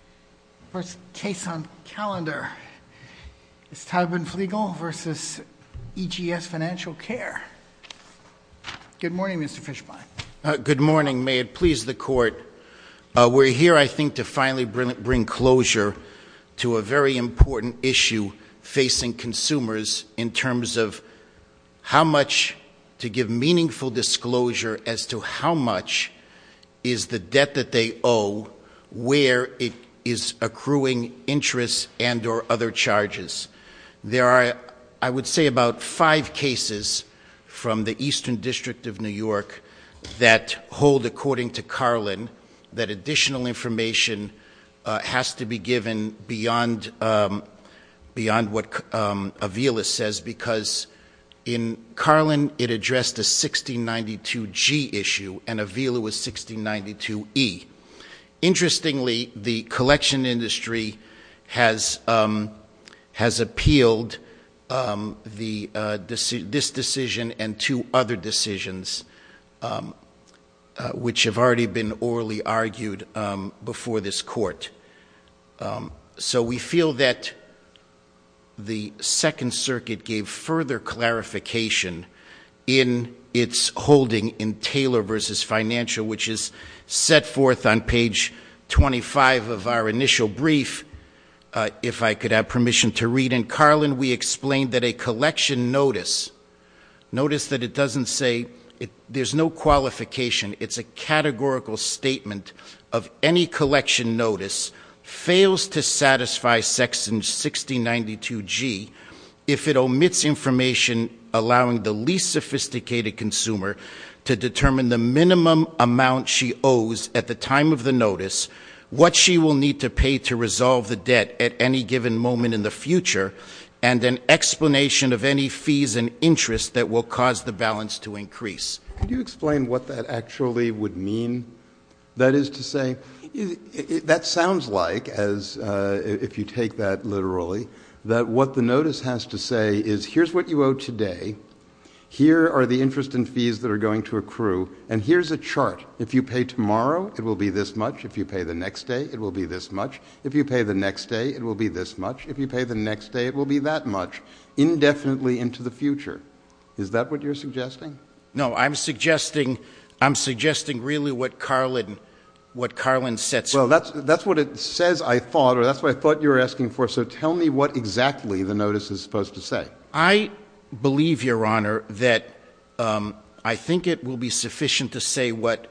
The first case on calendar is Taubenfliegel v. EGS Financial Care. Good morning, Mr. Fischbein. Good morning. May it please the Court. We're here, I think, to finally bring closure to a very important issue facing consumers in terms of how much to give meaningful disclosure as to how much is the debt that they owe, where it is accruing interest and or other charges. There are, I would say, about five cases from the Eastern District of New York that hold, according to Carlin, that additional information has to be given beyond what Avila says, because in Carlin it addressed a 1692G issue and Avila was 1692E. Interestingly, the collection industry has appealed this decision and two other decisions, which have already been orally argued before this Court. So we feel that the Second Circuit gave further clarification in its holding in Taylor v. Financial, which is set forth on page 25 of our initial brief, if I could have permission to read. In Carlin we explained that a collection notice, notice that it doesn't say there's no qualification. It's a categorical statement of any collection notice fails to satisfy section 1692G if it omits information allowing the least sophisticated consumer to determine the minimum amount she owes at the time of the notice, what she will need to pay to resolve the debt at any given moment in the future, and an explanation of any fees and interest that will cause the balance to increase. Can you explain what that actually would mean? That is to say, that sounds like, if you take that literally, that what the notice has to say is here's what you owe today, here are the interest and fees that are going to accrue, and here's a chart. If you pay tomorrow, it will be this much. If you pay the next day, it will be this much. If you pay the next day, it will be this much. If you pay the next day, it will be that much, indefinitely into the future. Is that what you're suggesting? No, I'm suggesting really what Carlin sets forth. Well, that's what it says, I thought, or that's what I thought you were asking for. So tell me what exactly the notice is supposed to say. I believe, Your Honor, that I think it will be sufficient to say what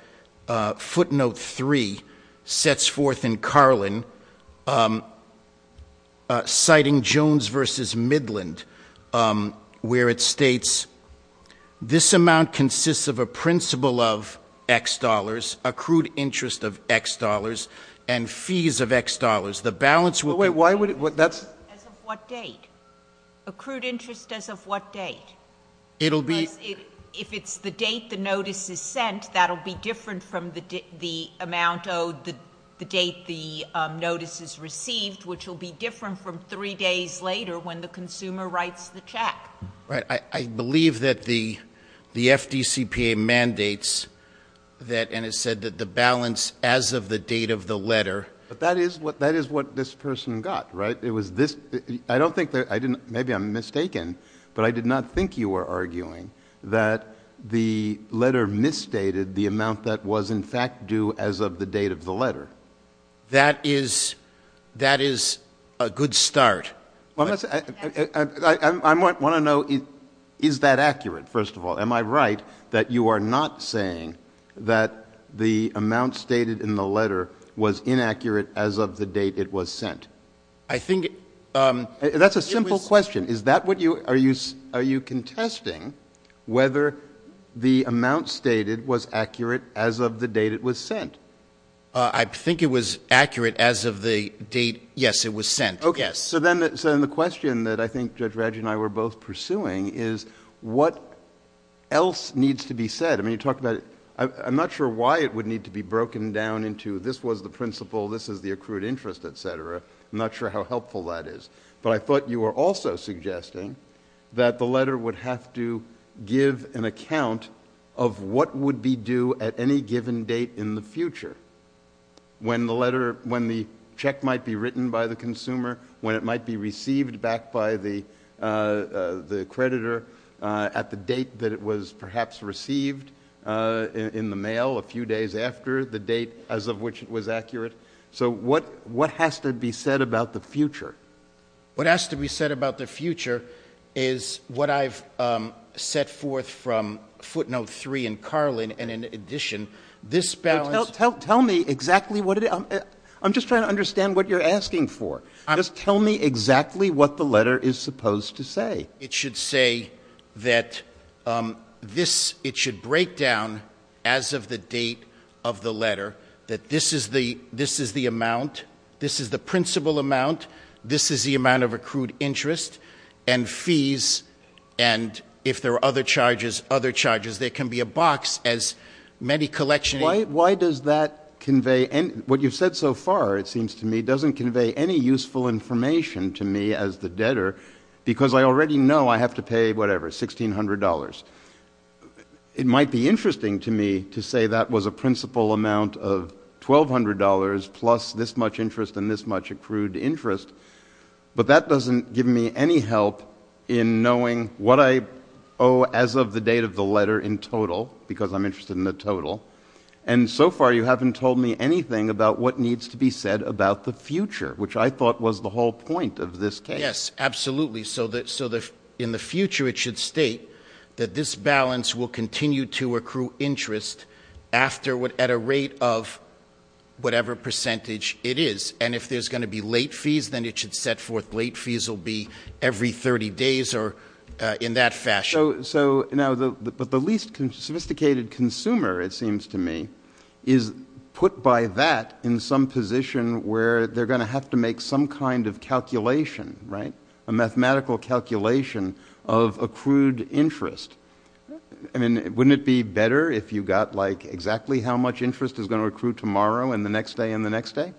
footnote 3 sets forth in Carlin, citing Jones v. Midland, where it states, this amount consists of a principal of X dollars, accrued interest of X dollars, and fees of X dollars. The balance will be- Wait, why would it, that's- As of what date? Accrued interest as of what date? It'll be- Because if it's the date the notice is sent, that'll be different from the amount owed, the date the notice is received, which will be different from 3 days later when the consumer writes the check. Right. I believe that the FDCPA mandates that, and it said that the balance as of the date of the letter- But that is what this person got, right? I don't think that, maybe I'm mistaken, but I did not think you were arguing that the letter misstated the amount that was in fact due as of the date of the letter. That is a good start. I want to know, is that accurate, first of all? Am I right that you are not saying that the amount stated in the letter was inaccurate as of the date it was sent? I think- That's a simple question. Are you contesting whether the amount stated was accurate as of the date it was sent? I think it was accurate as of the date, yes, it was sent, yes. Okay, so then the question that I think Judge Radji and I were both pursuing is what else needs to be said? I'm not sure why it would need to be broken down into this was the principle, this is the accrued interest, etc. I'm not sure how helpful that is. But I thought you were also suggesting that the letter would have to give an account of what would be due at any given date in the future. When the check might be written by the consumer, when it might be received back by the creditor, at the date that it was perhaps received in the mail a few days after the date as of which it was accurate. So what has to be said about the future? What has to be said about the future is what I've set forth from footnote three in Carlin and in addition. This balance- Tell me exactly what it is. I'm just trying to understand what you're asking for. Just tell me exactly what the letter is supposed to say. It should say that this, it should break down as of the date of the letter that this is the amount. This is the principle amount. This is the amount of accrued interest and fees. And if there are other charges, there can be a box as many collection- Why does that convey, what you've said so far it seems to me doesn't convey any useful information to me as the debtor because I already know I have to pay whatever, $1,600. It might be interesting to me to say that was a principle amount of $1,200 plus this much interest and this much accrued interest. But that doesn't give me any help in knowing what I owe as of the date of the letter in total because I'm interested in the total. And so far you haven't told me anything about what needs to be said about the future, which I thought was the whole point of this case. Yes, absolutely. So in the future it should state that this balance will continue to accrue interest at a rate of whatever percentage it is. And if there's going to be late fees, then it should set forth late fees will be every 30 days or in that fashion. So now the least sophisticated consumer, it seems to me, is put by that in some position where they're going to have to make some kind of calculation, right? A mathematical calculation of accrued interest. I mean, wouldn't it be better if you got like exactly how much interest is going to accrue tomorrow and the next day and the next day?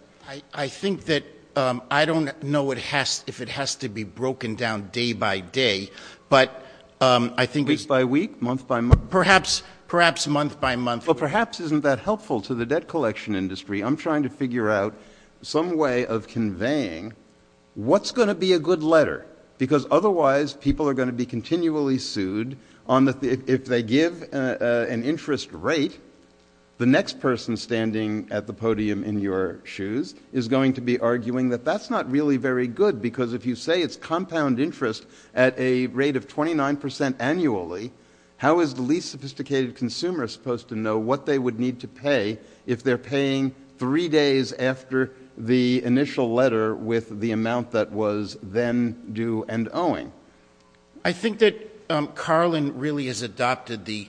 I think that I don't know if it has to be broken down day by day, but I think we — Month by week? Month by month? Perhaps month by month. Well, perhaps isn't that helpful to the debt collection industry? I'm trying to figure out some way of conveying what's going to be a good letter because otherwise people are going to be continually sued on if they give an interest rate, the next person standing at the podium in your shoes is going to be arguing that that's not really very good because if you say it's compound interest at a rate of 29 percent annually, how is the least sophisticated consumer supposed to know what they would need to pay if they're paying three days after the initial letter with the amount that was then due and owing? I think that Carlin really has adopted the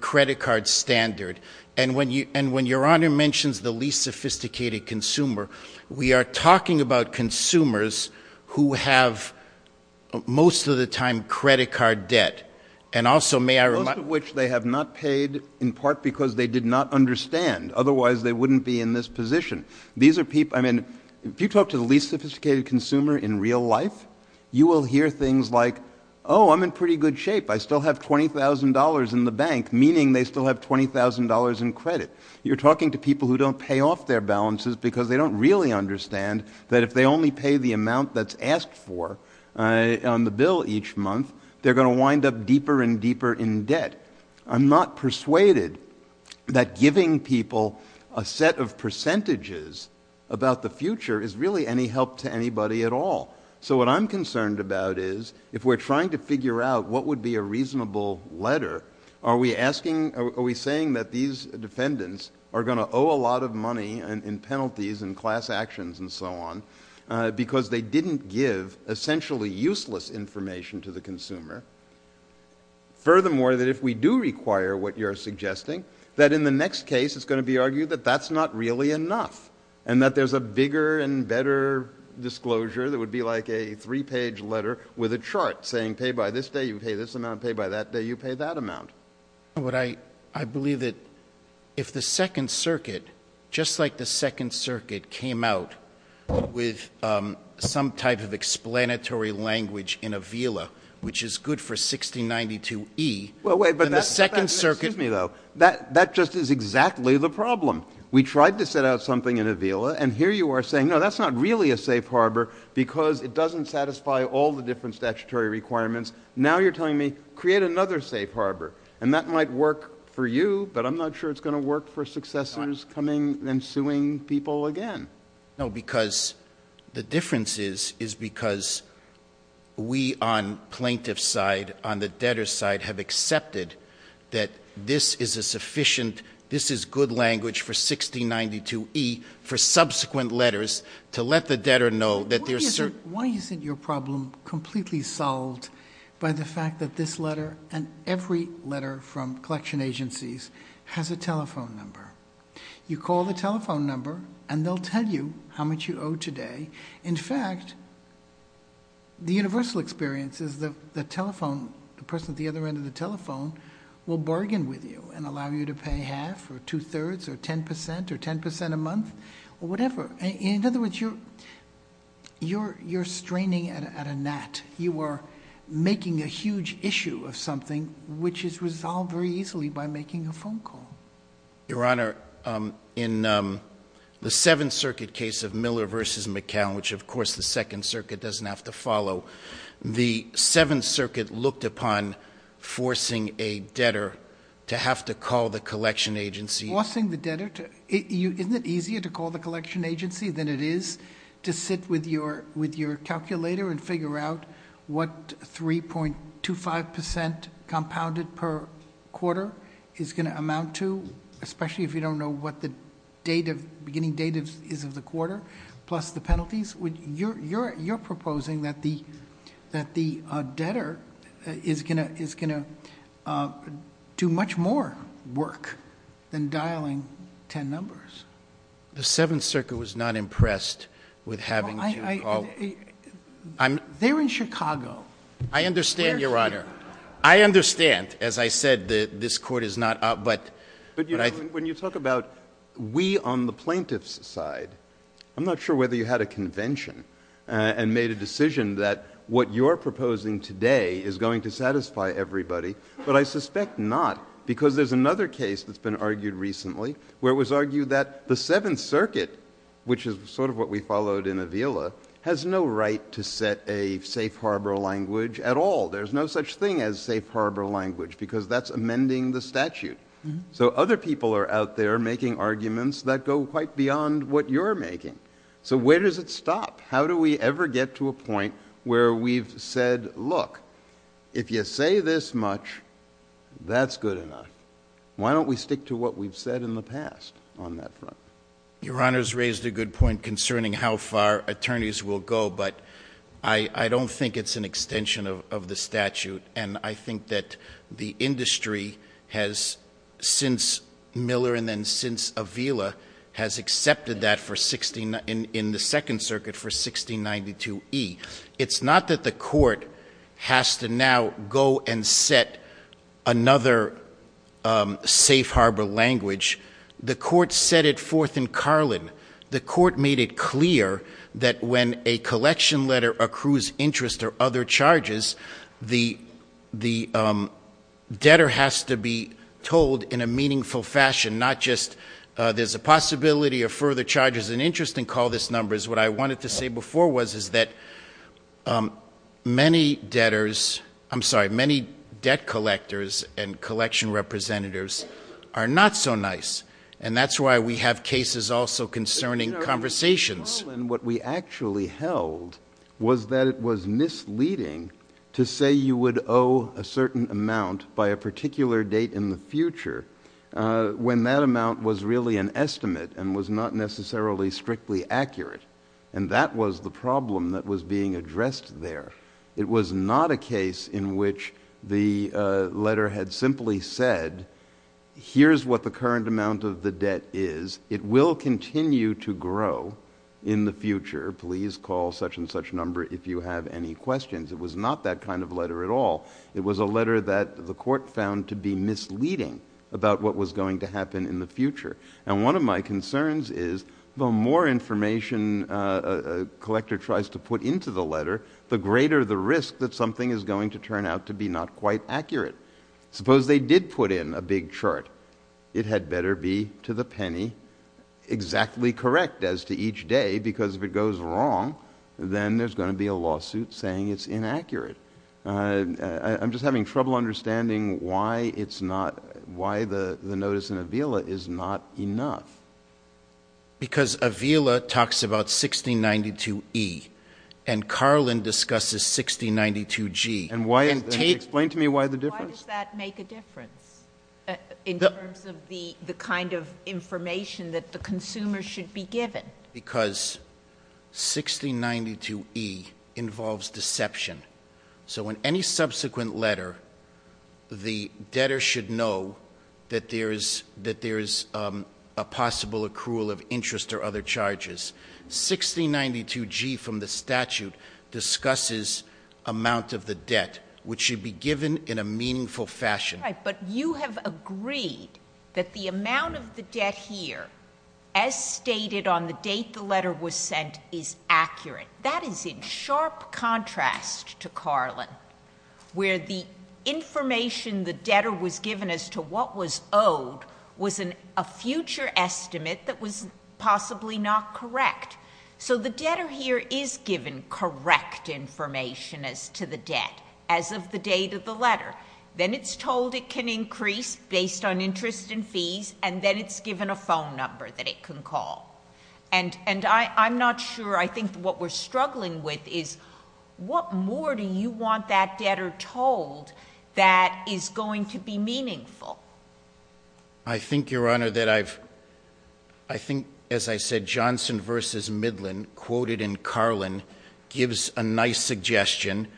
credit card standard. And when your Honor mentions the least sophisticated consumer, we are talking about consumers who have most of the time credit card debt. And also, may I remind — Most of which they have not paid in part because they did not understand. Otherwise, they wouldn't be in this position. I mean, if you talk to the least sophisticated consumer in real life, you will hear things like, oh, I'm in pretty good shape. I still have $20,000 in the bank, meaning they still have $20,000 in credit. You're talking to people who don't pay off their balances because they don't really understand that if they only pay the amount that's asked for on the bill each month, I'm not persuaded that giving people a set of percentages about the future is really any help to anybody at all. So what I'm concerned about is, if we're trying to figure out what would be a reasonable letter, are we saying that these defendants are going to owe a lot of money in penalties and class actions and so on because they didn't give essentially useless information to the consumer? Furthermore, that if we do require what you're suggesting, that in the next case it's going to be argued that that's not really enough and that there's a bigger and better disclosure that would be like a three-page letter with a chart saying, pay by this day, you pay this amount, pay by that day, you pay that amount. I believe that if the Second Circuit, just like the Second Circuit, came out with some type of explanatory language in Avila, which is good for 1692E, then the Second Circuit — Excuse me, though. That just is exactly the problem. We tried to set out something in Avila, and here you are saying, no, that's not really a safe harbor because it doesn't satisfy all the different statutory requirements. Now you're telling me, create another safe harbor, and that might work for you, but I'm not sure it's going to work for successors coming and suing people again. No, because the difference is, is because we on plaintiff's side, on the debtor's side, have accepted that this is a sufficient, this is good language for 1692E for subsequent letters to let the debtor know that there's certain — Why isn't your problem completely solved by the fact that this letter and every letter from collection agencies has a telephone number? You call the telephone number, and they'll tell you how much you owe today. In fact, the universal experience is that the telephone, the person at the other end of the telephone will bargain with you and allow you to pay half or two-thirds or 10 percent or 10 percent a month or whatever. In other words, you're straining at a gnat. You are making a huge issue of something, which is resolved very easily by making a phone call. Your Honor, in the Seventh Circuit case of Miller v. McCown, which of course the Second Circuit doesn't have to follow, the Seventh Circuit looked upon forcing a debtor to have to call the collection agency. Forcing the debtor to — isn't it easier to call the collection agency than it is to sit with your calculator and figure out what 3.25 percent compounded per quarter is going to amount to, especially if you don't know what the beginning date is of the quarter, plus the penalties? You're proposing that the debtor is going to do much more work than dialing 10 numbers. The Seventh Circuit was not impressed with having to call — They're in Chicago. I understand, Your Honor. I understand. As I said, this Court is not — But, you know, when you talk about we on the plaintiff's side, I'm not sure whether you had a convention and made a decision that what you're proposing today is going to satisfy everybody, but I suspect not because there's another case that's been argued recently where it was argued that the Seventh Circuit, which is sort of what we followed in Avila, has no right to set a safe harbor language at all. There's no such thing as safe harbor language because that's amending the statute. So other people are out there making arguments that go quite beyond what you're making. So where does it stop? How do we ever get to a point where we've said, Look, if you say this much, that's good enough. Why don't we stick to what we've said in the past on that front? Your Honor's raised a good point concerning how far attorneys will go, but I don't think it's an extension of the statute, and I think that the industry has, since Miller and then since Avila, has accepted that in the Second Circuit for 1692e. It's not that the court has to now go and set another safe harbor language. The court set it forth in Carlin. The court made it clear that when a collection letter accrues interest or other charges, the debtor has to be told in a meaningful fashion, not just there's a possibility of further charges and interest in call this number. What I wanted to say before was that many debtors, I'm sorry, many debt collectors and collection representatives are not so nice, and that's why we have cases also concerning conversations. In Carlin, what we actually held was that it was misleading to say you would owe a certain amount by a particular date in the future when that amount was really an estimate and was not necessarily strictly accurate, and that was the problem that was being addressed there. It was not a case in which the letter had simply said, here's what the current amount of the debt is. It will continue to grow in the future. Please call such and such number if you have any questions. It was not that kind of letter at all. It was a letter that the court found to be misleading about what was going to happen in the future, and one of my concerns is the more information a collector tries to put into the letter, the greater the risk that something is going to turn out to be not quite accurate. Suppose they did put in a big chart. It had better be, to the penny, exactly correct as to each day, because if it goes wrong, then there's going to be a lawsuit saying it's inaccurate. I'm just having trouble understanding why the notice in Avila is not enough. Because Avila talks about 1692E, and Carlin discusses 1692G. Explain to me why the difference. Why does that make a difference in terms of the kind of information that the consumer should be given? Because 1692E involves deception. So in any subsequent letter, the debtor should know that there is a possible accrual of interest or other charges. 1692G from the statute discusses amount of the debt, which should be given in a meaningful fashion. Right, but you have agreed that the amount of the debt here, as stated on the date the letter was sent, is accurate. That is in sharp contrast to Carlin, where the information the debtor was given as to what was owed was a future estimate that was possibly not correct. So the debtor here is given correct information as to the debt as of the date of the letter. Then it's told it can increase based on interest and fees, and then it's given a phone number that it can call. And I'm not sure. I think what we're struggling with is what more do you want that debtor told that is going to be meaningful? I think, Your Honor, that I've, I think, as I said, Johnson v. Midland, quoted in Carlin, gives a nice suggestion.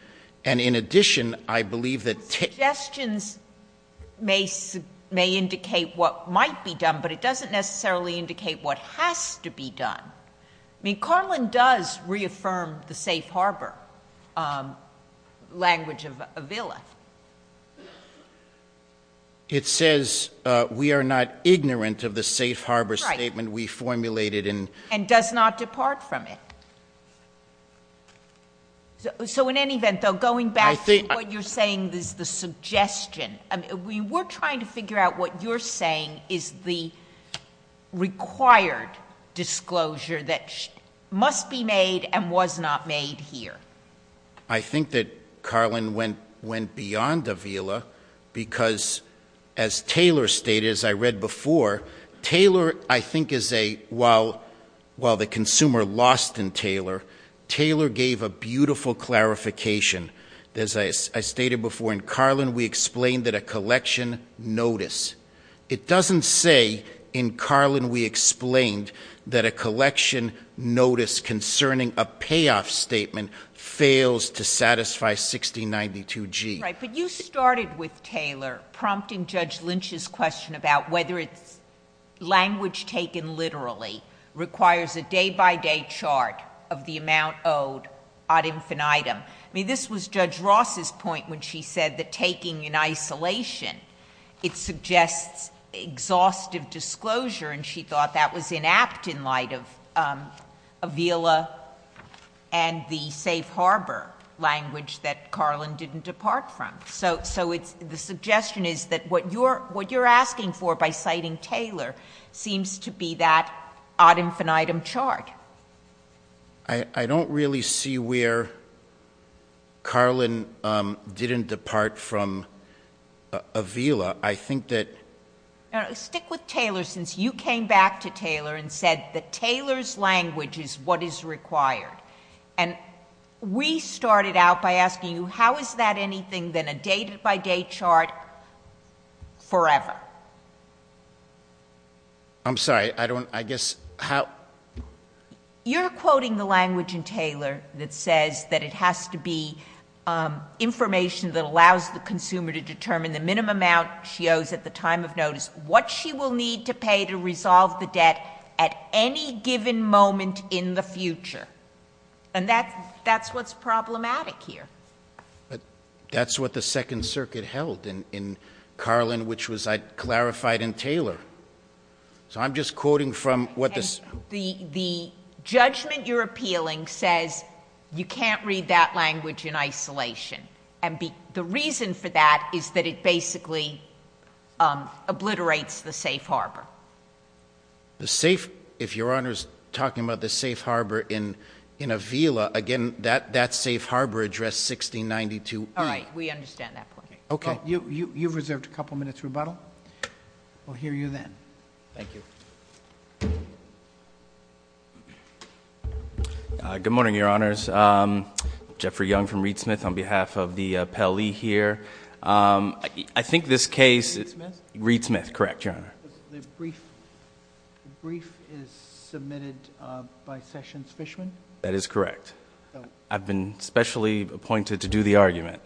And in addition, I believe that... Suggestions may indicate what might be done, but it doesn't necessarily indicate what has to be done. I mean, Carlin does reaffirm the safe harbor language of Avila. It says we are not ignorant of the safe harbor statement we formulated in... And does not depart from it. So in any event, though, going back to what you're saying is the suggestion, we were trying to figure out what you're saying is the required disclosure that must be made and was not made here. I think that Carlin went beyond Avila because, as Taylor stated, as I read before, Taylor, I think, is a, while the consumer lost in Taylor, Taylor gave a beautiful clarification. As I stated before, in Carlin, we explained that a collection notice, it doesn't say in Carlin we explained that a collection notice concerning a payoff statement fails to satisfy 6092G. Right, but you started with Taylor, prompting Judge Lynch's question about whether it's language taken literally requires a day-by-day chart of the amount owed ad infinitum. I mean, this was Judge Ross's point when she said that taking in isolation, it suggests exhaustive disclosure, and she thought that was inapt in light of Avila and the safe harbor language that Carlin didn't depart from. So the suggestion is that what you're asking for by citing Taylor seems to be that ad infinitum chart. I don't really see where Carlin didn't depart from Avila. Stick with Taylor, since you came back to Taylor and said that Taylor's language is what is required. And we started out by asking you, how is that anything than a day-by-day chart forever? I'm sorry, I don't, I guess, how? You're quoting the language in Taylor that says that it has to be information that allows the consumer to determine the minimum amount she owes at the time of notice, what she will need to pay to resolve the debt at any given moment in the future. And that's what's problematic here. But that's what the Second Circuit held in Carlin, which was clarified in Taylor. So I'm just quoting from what the... The judgment you're appealing says you can't read that language in isolation. And the reason for that is that it basically obliterates the safe harbor. The safe, if Your Honor's talking about the safe harbor in Avila, again, that safe harbor address 1692E. All right, we understand that point. Okay. You've reserved a couple minutes rebuttal. We'll hear you then. Thank you. Good morning, Your Honors. Jeffrey Young from Reed Smith on behalf of the appellee here. I think this case... Reed Smith? Reed Smith, correct, Your Honor. The brief is submitted by Sessions Fishman? That is correct. I've been specially appointed to do the argument.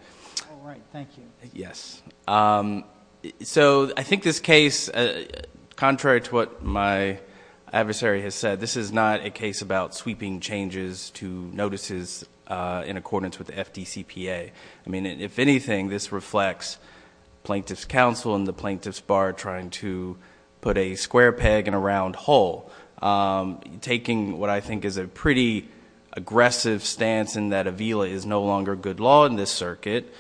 All right, thank you. Yes. So I think this case, contrary to what my adversary has said, this is not a case about sweeping changes to notices in accordance with the FDCPA. I mean, if anything, this reflects Plaintiff's Counsel and the Plaintiff's Bar trying to put a square peg in a round hole, taking what I think is a pretty aggressive stance in that Avila is no longer good law in this circuit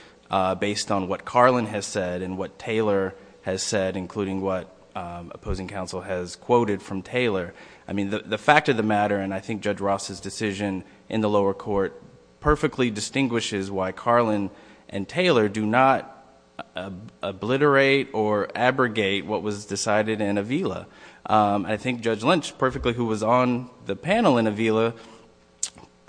based on what Carlin has said and what Taylor has said, including what opposing counsel has quoted from Taylor. I mean, the fact of the matter, and I think Judge Ross's decision in the lower court, perfectly distinguishes why Carlin and Taylor do not obliterate or abrogate what was decided in Avila. I think Judge Lynch, perfectly, who was on the panel in Avila,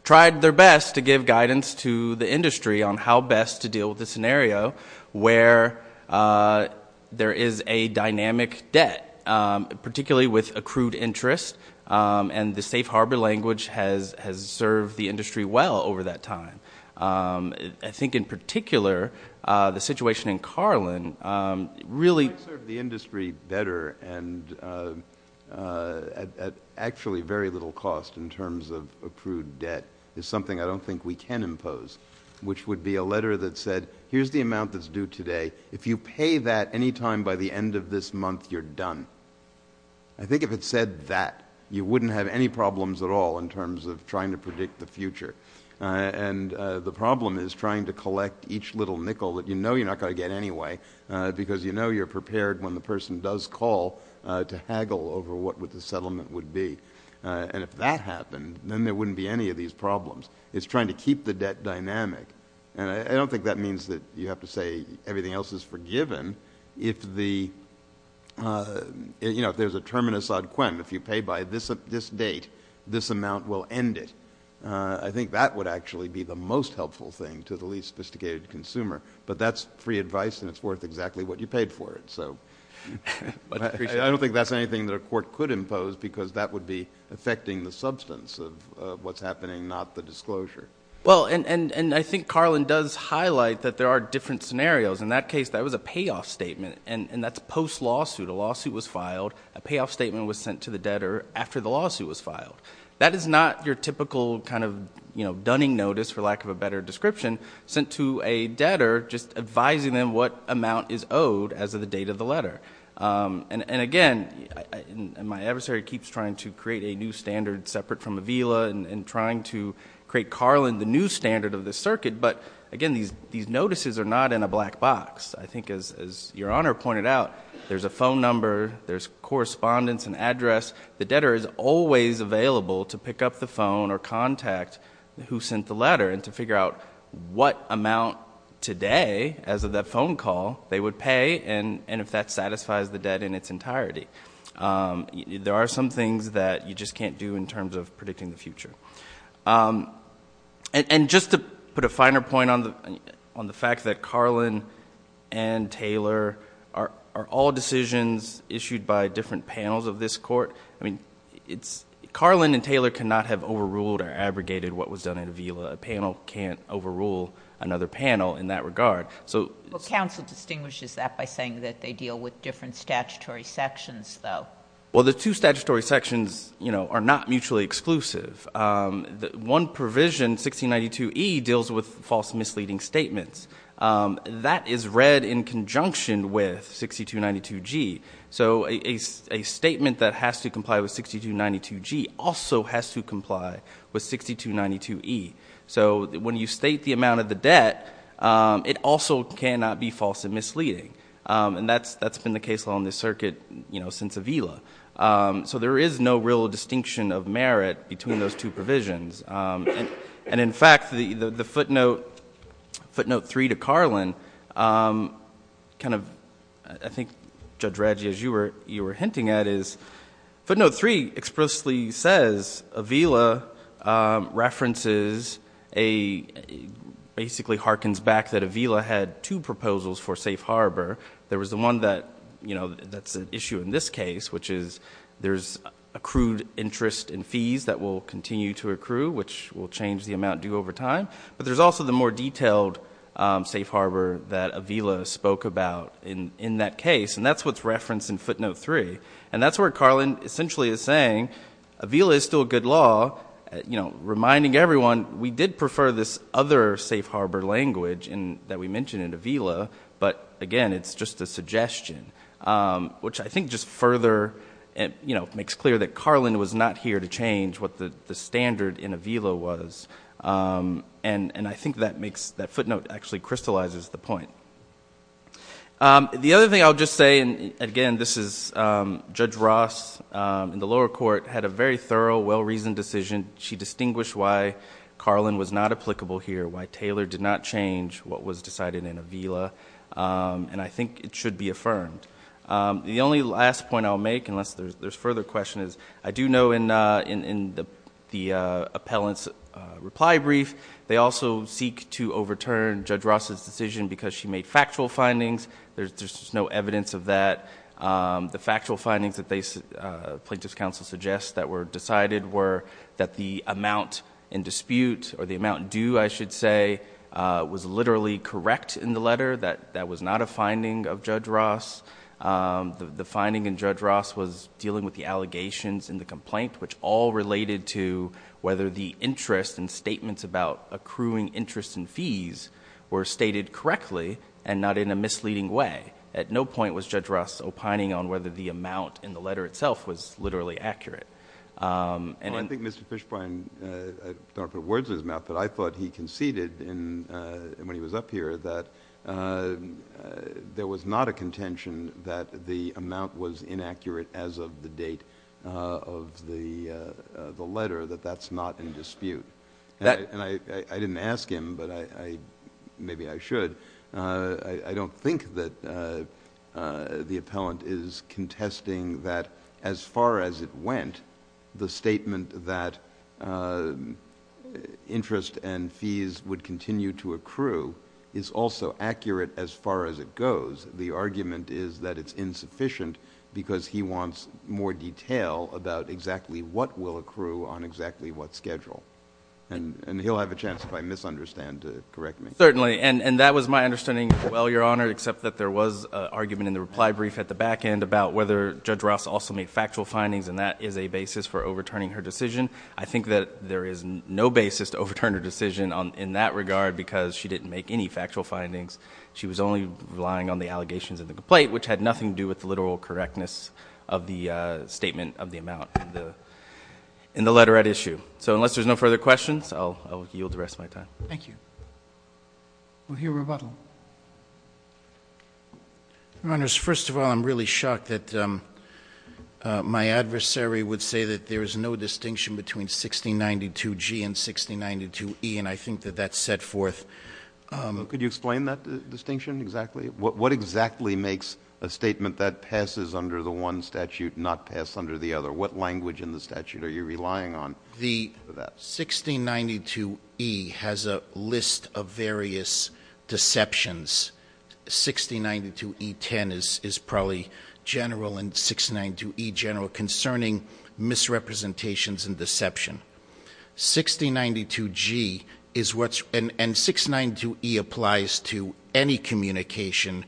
tried their best to give guidance to the industry on how best to deal with the scenario where there is a dynamic debt, particularly with accrued interest, and the safe harbor language has served the industry well over that time. I think, in particular, the situation in Carlin really – in terms of accrued debt is something I don't think we can impose, which would be a letter that said, here's the amount that's due today. If you pay that any time by the end of this month, you're done. I think if it said that, you wouldn't have any problems at all in terms of trying to predict the future. And the problem is trying to collect each little nickel that you know you're not going to get anyway because you know you're prepared when the person does call to haggle over what the settlement would be. And if that happened, then there wouldn't be any of these problems. It's trying to keep the debt dynamic. And I don't think that means that you have to say everything else is forgiven. If there's a term in Assad-Quen, if you pay by this date, this amount will end it. I think that would actually be the most helpful thing to the least sophisticated consumer. But that's free advice, and it's worth exactly what you paid for it. So I don't think that's anything that a court could impose because that would be affecting the substance of what's happening, not the disclosure. Well, and I think Carlin does highlight that there are different scenarios. In that case, that was a payoff statement, and that's post-lawsuit. A lawsuit was filed. A payoff statement was sent to the debtor after the lawsuit was filed. That is not your typical kind of dunning notice, for lack of a better description, sent to a debtor just advising them what amount is owed as of the date of the letter. And, again, my adversary keeps trying to create a new standard separate from Avila and trying to create Carlin the new standard of the circuit. But, again, these notices are not in a black box. I think, as Your Honor pointed out, there's a phone number. There's correspondence and address. The debtor is always available to pick up the phone or contact who sent the letter and to figure out what amount today, as of that phone call, they would pay and if that satisfies the debt in its entirety. There are some things that you just can't do in terms of predicting the future. And just to put a finer point on the fact that Carlin and Taylor are all decisions issued by different panels of this court, Carlin and Taylor cannot have overruled or abrogated what was done at Avila. A panel can't overrule another panel in that regard. Counsel distinguishes that by saying that they deal with different statutory sections, though. Well, the two statutory sections are not mutually exclusive. One provision, 1692E, deals with false misleading statements. That is read in conjunction with 6292G. So a statement that has to comply with 6292G also has to comply with 6292E. So when you state the amount of the debt, it also cannot be false and misleading. And that's been the case along this circuit since Avila. So there is no real distinction of merit between those two provisions. And, in fact, the footnote 3 to Carlin kind of, I think, Judge Radji, as you were hinting at, is footnote 3 explicitly says Avila references a basically harkens back that Avila had two proposals for safe harbor. There was the one that's an issue in this case, which is there's accrued interest in fees that will continue to accrue, which will change the amount due over time. But there's also the more detailed safe harbor that Avila spoke about in that case. And that's what's referenced in footnote 3. And that's where Carlin essentially is saying Avila is still a good law, reminding everyone, we did prefer this other safe harbor language that we mentioned in Avila. But, again, it's just a suggestion, which I think just further makes clear that Carlin was not here to change what the standard in Avila was. And I think that footnote actually crystallizes the point. The other thing I'll just say, and, again, this is Judge Ross in the lower court, had a very thorough, well-reasoned decision. She distinguished why Carlin was not applicable here, why Taylor did not change what was decided in Avila. And I think it should be affirmed. The only last point I'll make, unless there's further questions, I do know in the appellant's reply brief, they also seek to overturn Judge Ross's decision because she made factual findings. There's just no evidence of that. The factual findings that plaintiff's counsel suggests that were decided were that the amount in dispute, or the amount due, I should say, was literally correct in the letter, that that was not a finding of Judge Ross. The finding in Judge Ross was dealing with the allegations in the complaint, which all related to whether the interest and statements about accruing interest and fees were stated correctly and not in a misleading way. At no point was Judge Ross opining on whether the amount in the letter itself was literally accurate. I think Mr. Fishbein, I don't want to put words in his mouth, but I thought he conceded when he was up here that there was not a contention that the amount was inaccurate as of the date of the letter, that that's not in dispute. I didn't ask him, but maybe I should. I don't think that the appellant is contesting that as far as it went, the statement that interest and fees would continue to accrue is also accurate as far as it goes. The argument is that it's insufficient because he wants more detail about exactly what will accrue on exactly what schedule. And he'll have a chance, if I misunderstand, to correct me. Certainly, and that was my understanding as well, Your Honor, except that there was an argument in the reply brief at the back end about whether Judge Ross also made factual findings, and that is a basis for overturning her decision. I think that there is no basis to overturn her decision in that regard because she didn't make any factual findings. She was only relying on the allegations in the complaint, which had nothing to do with the literal correctness of the statement of the amount in the letter at issue. So unless there's no further questions, I'll yield the rest of my time. Thank you. We'll hear rebuttal. Your Honors, first of all, I'm really shocked that my adversary would say that there is no distinction between 1692G and 1692E, and I think that that's set forth. Could you explain that distinction exactly? What exactly makes a statement that passes under the one statute not pass under the other? What language in the statute are you relying on for that? 1692E has a list of various deceptions. 1692E10 is probably general, and 1692E general concerning misrepresentations and deception. 1692G is what's, and 1692E applies to any communication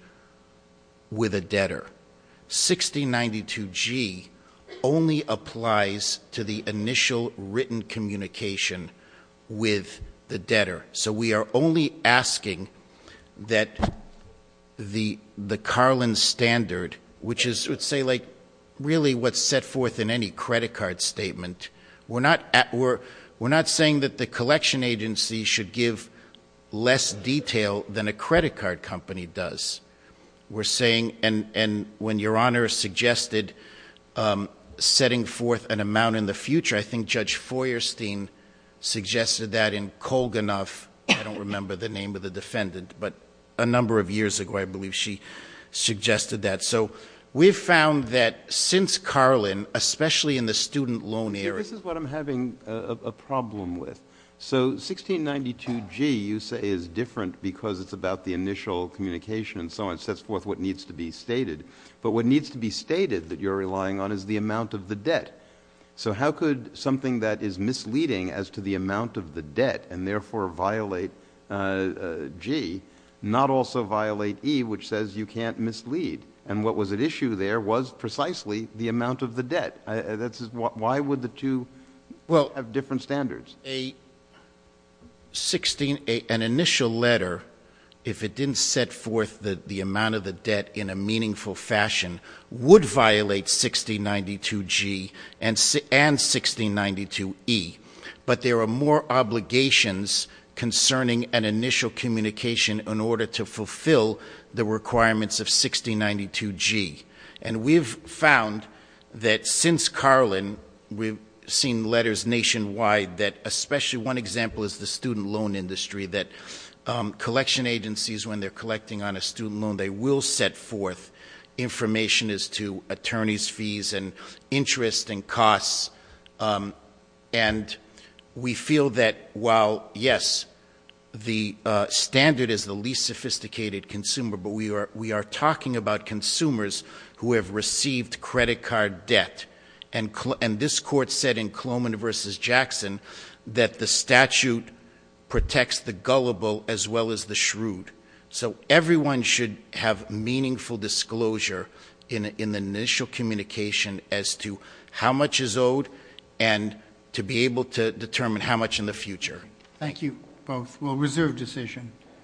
with a debtor. 1692G only applies to the initial written communication with the debtor. So we are only asking that the Carlin standard, which is, let's say, really what's set forth in any credit card statement. We're not saying that the collection agency should give less detail than a credit card company does. We're saying, and when Your Honor suggested setting forth an amount in the future, I think Judge Feuerstein suggested that in Kolganoff. I don't remember the name of the defendant, but a number of years ago, I believe, she suggested that. So we've found that since Carlin, especially in the student loan area. See, this is what I'm having a problem with. So 1692G, you say, is different because it's about the initial communication and so on. It sets forth what needs to be stated. But what needs to be stated that you're relying on is the amount of the debt. So how could something that is misleading as to the amount of the debt, and therefore violate G, not also violate E, which says you can't mislead? And what was at issue there was precisely the amount of the debt. Why would the two have different standards? An initial letter, if it didn't set forth the amount of the debt in a meaningful fashion, would violate 1692G and 1692E. But there are more obligations concerning an initial communication in order to fulfill the requirements of 1692G. And we've found that since Carlin, we've seen letters nationwide that, especially one example is the student loan industry, that collection agencies, when they're collecting on a student loan, they will set forth information as to attorney's fees and interest and costs. And we feel that while, yes, the standard is the least sophisticated consumer, but we are talking about consumers who have received credit card debt. And this court said in Coleman v. Jackson that the statute protects the gullible as well as the shrewd. So everyone should have meaningful disclosure in the initial communication as to how much is owed and to be able to determine how much in the future. Thank you both. Well, reserve decision.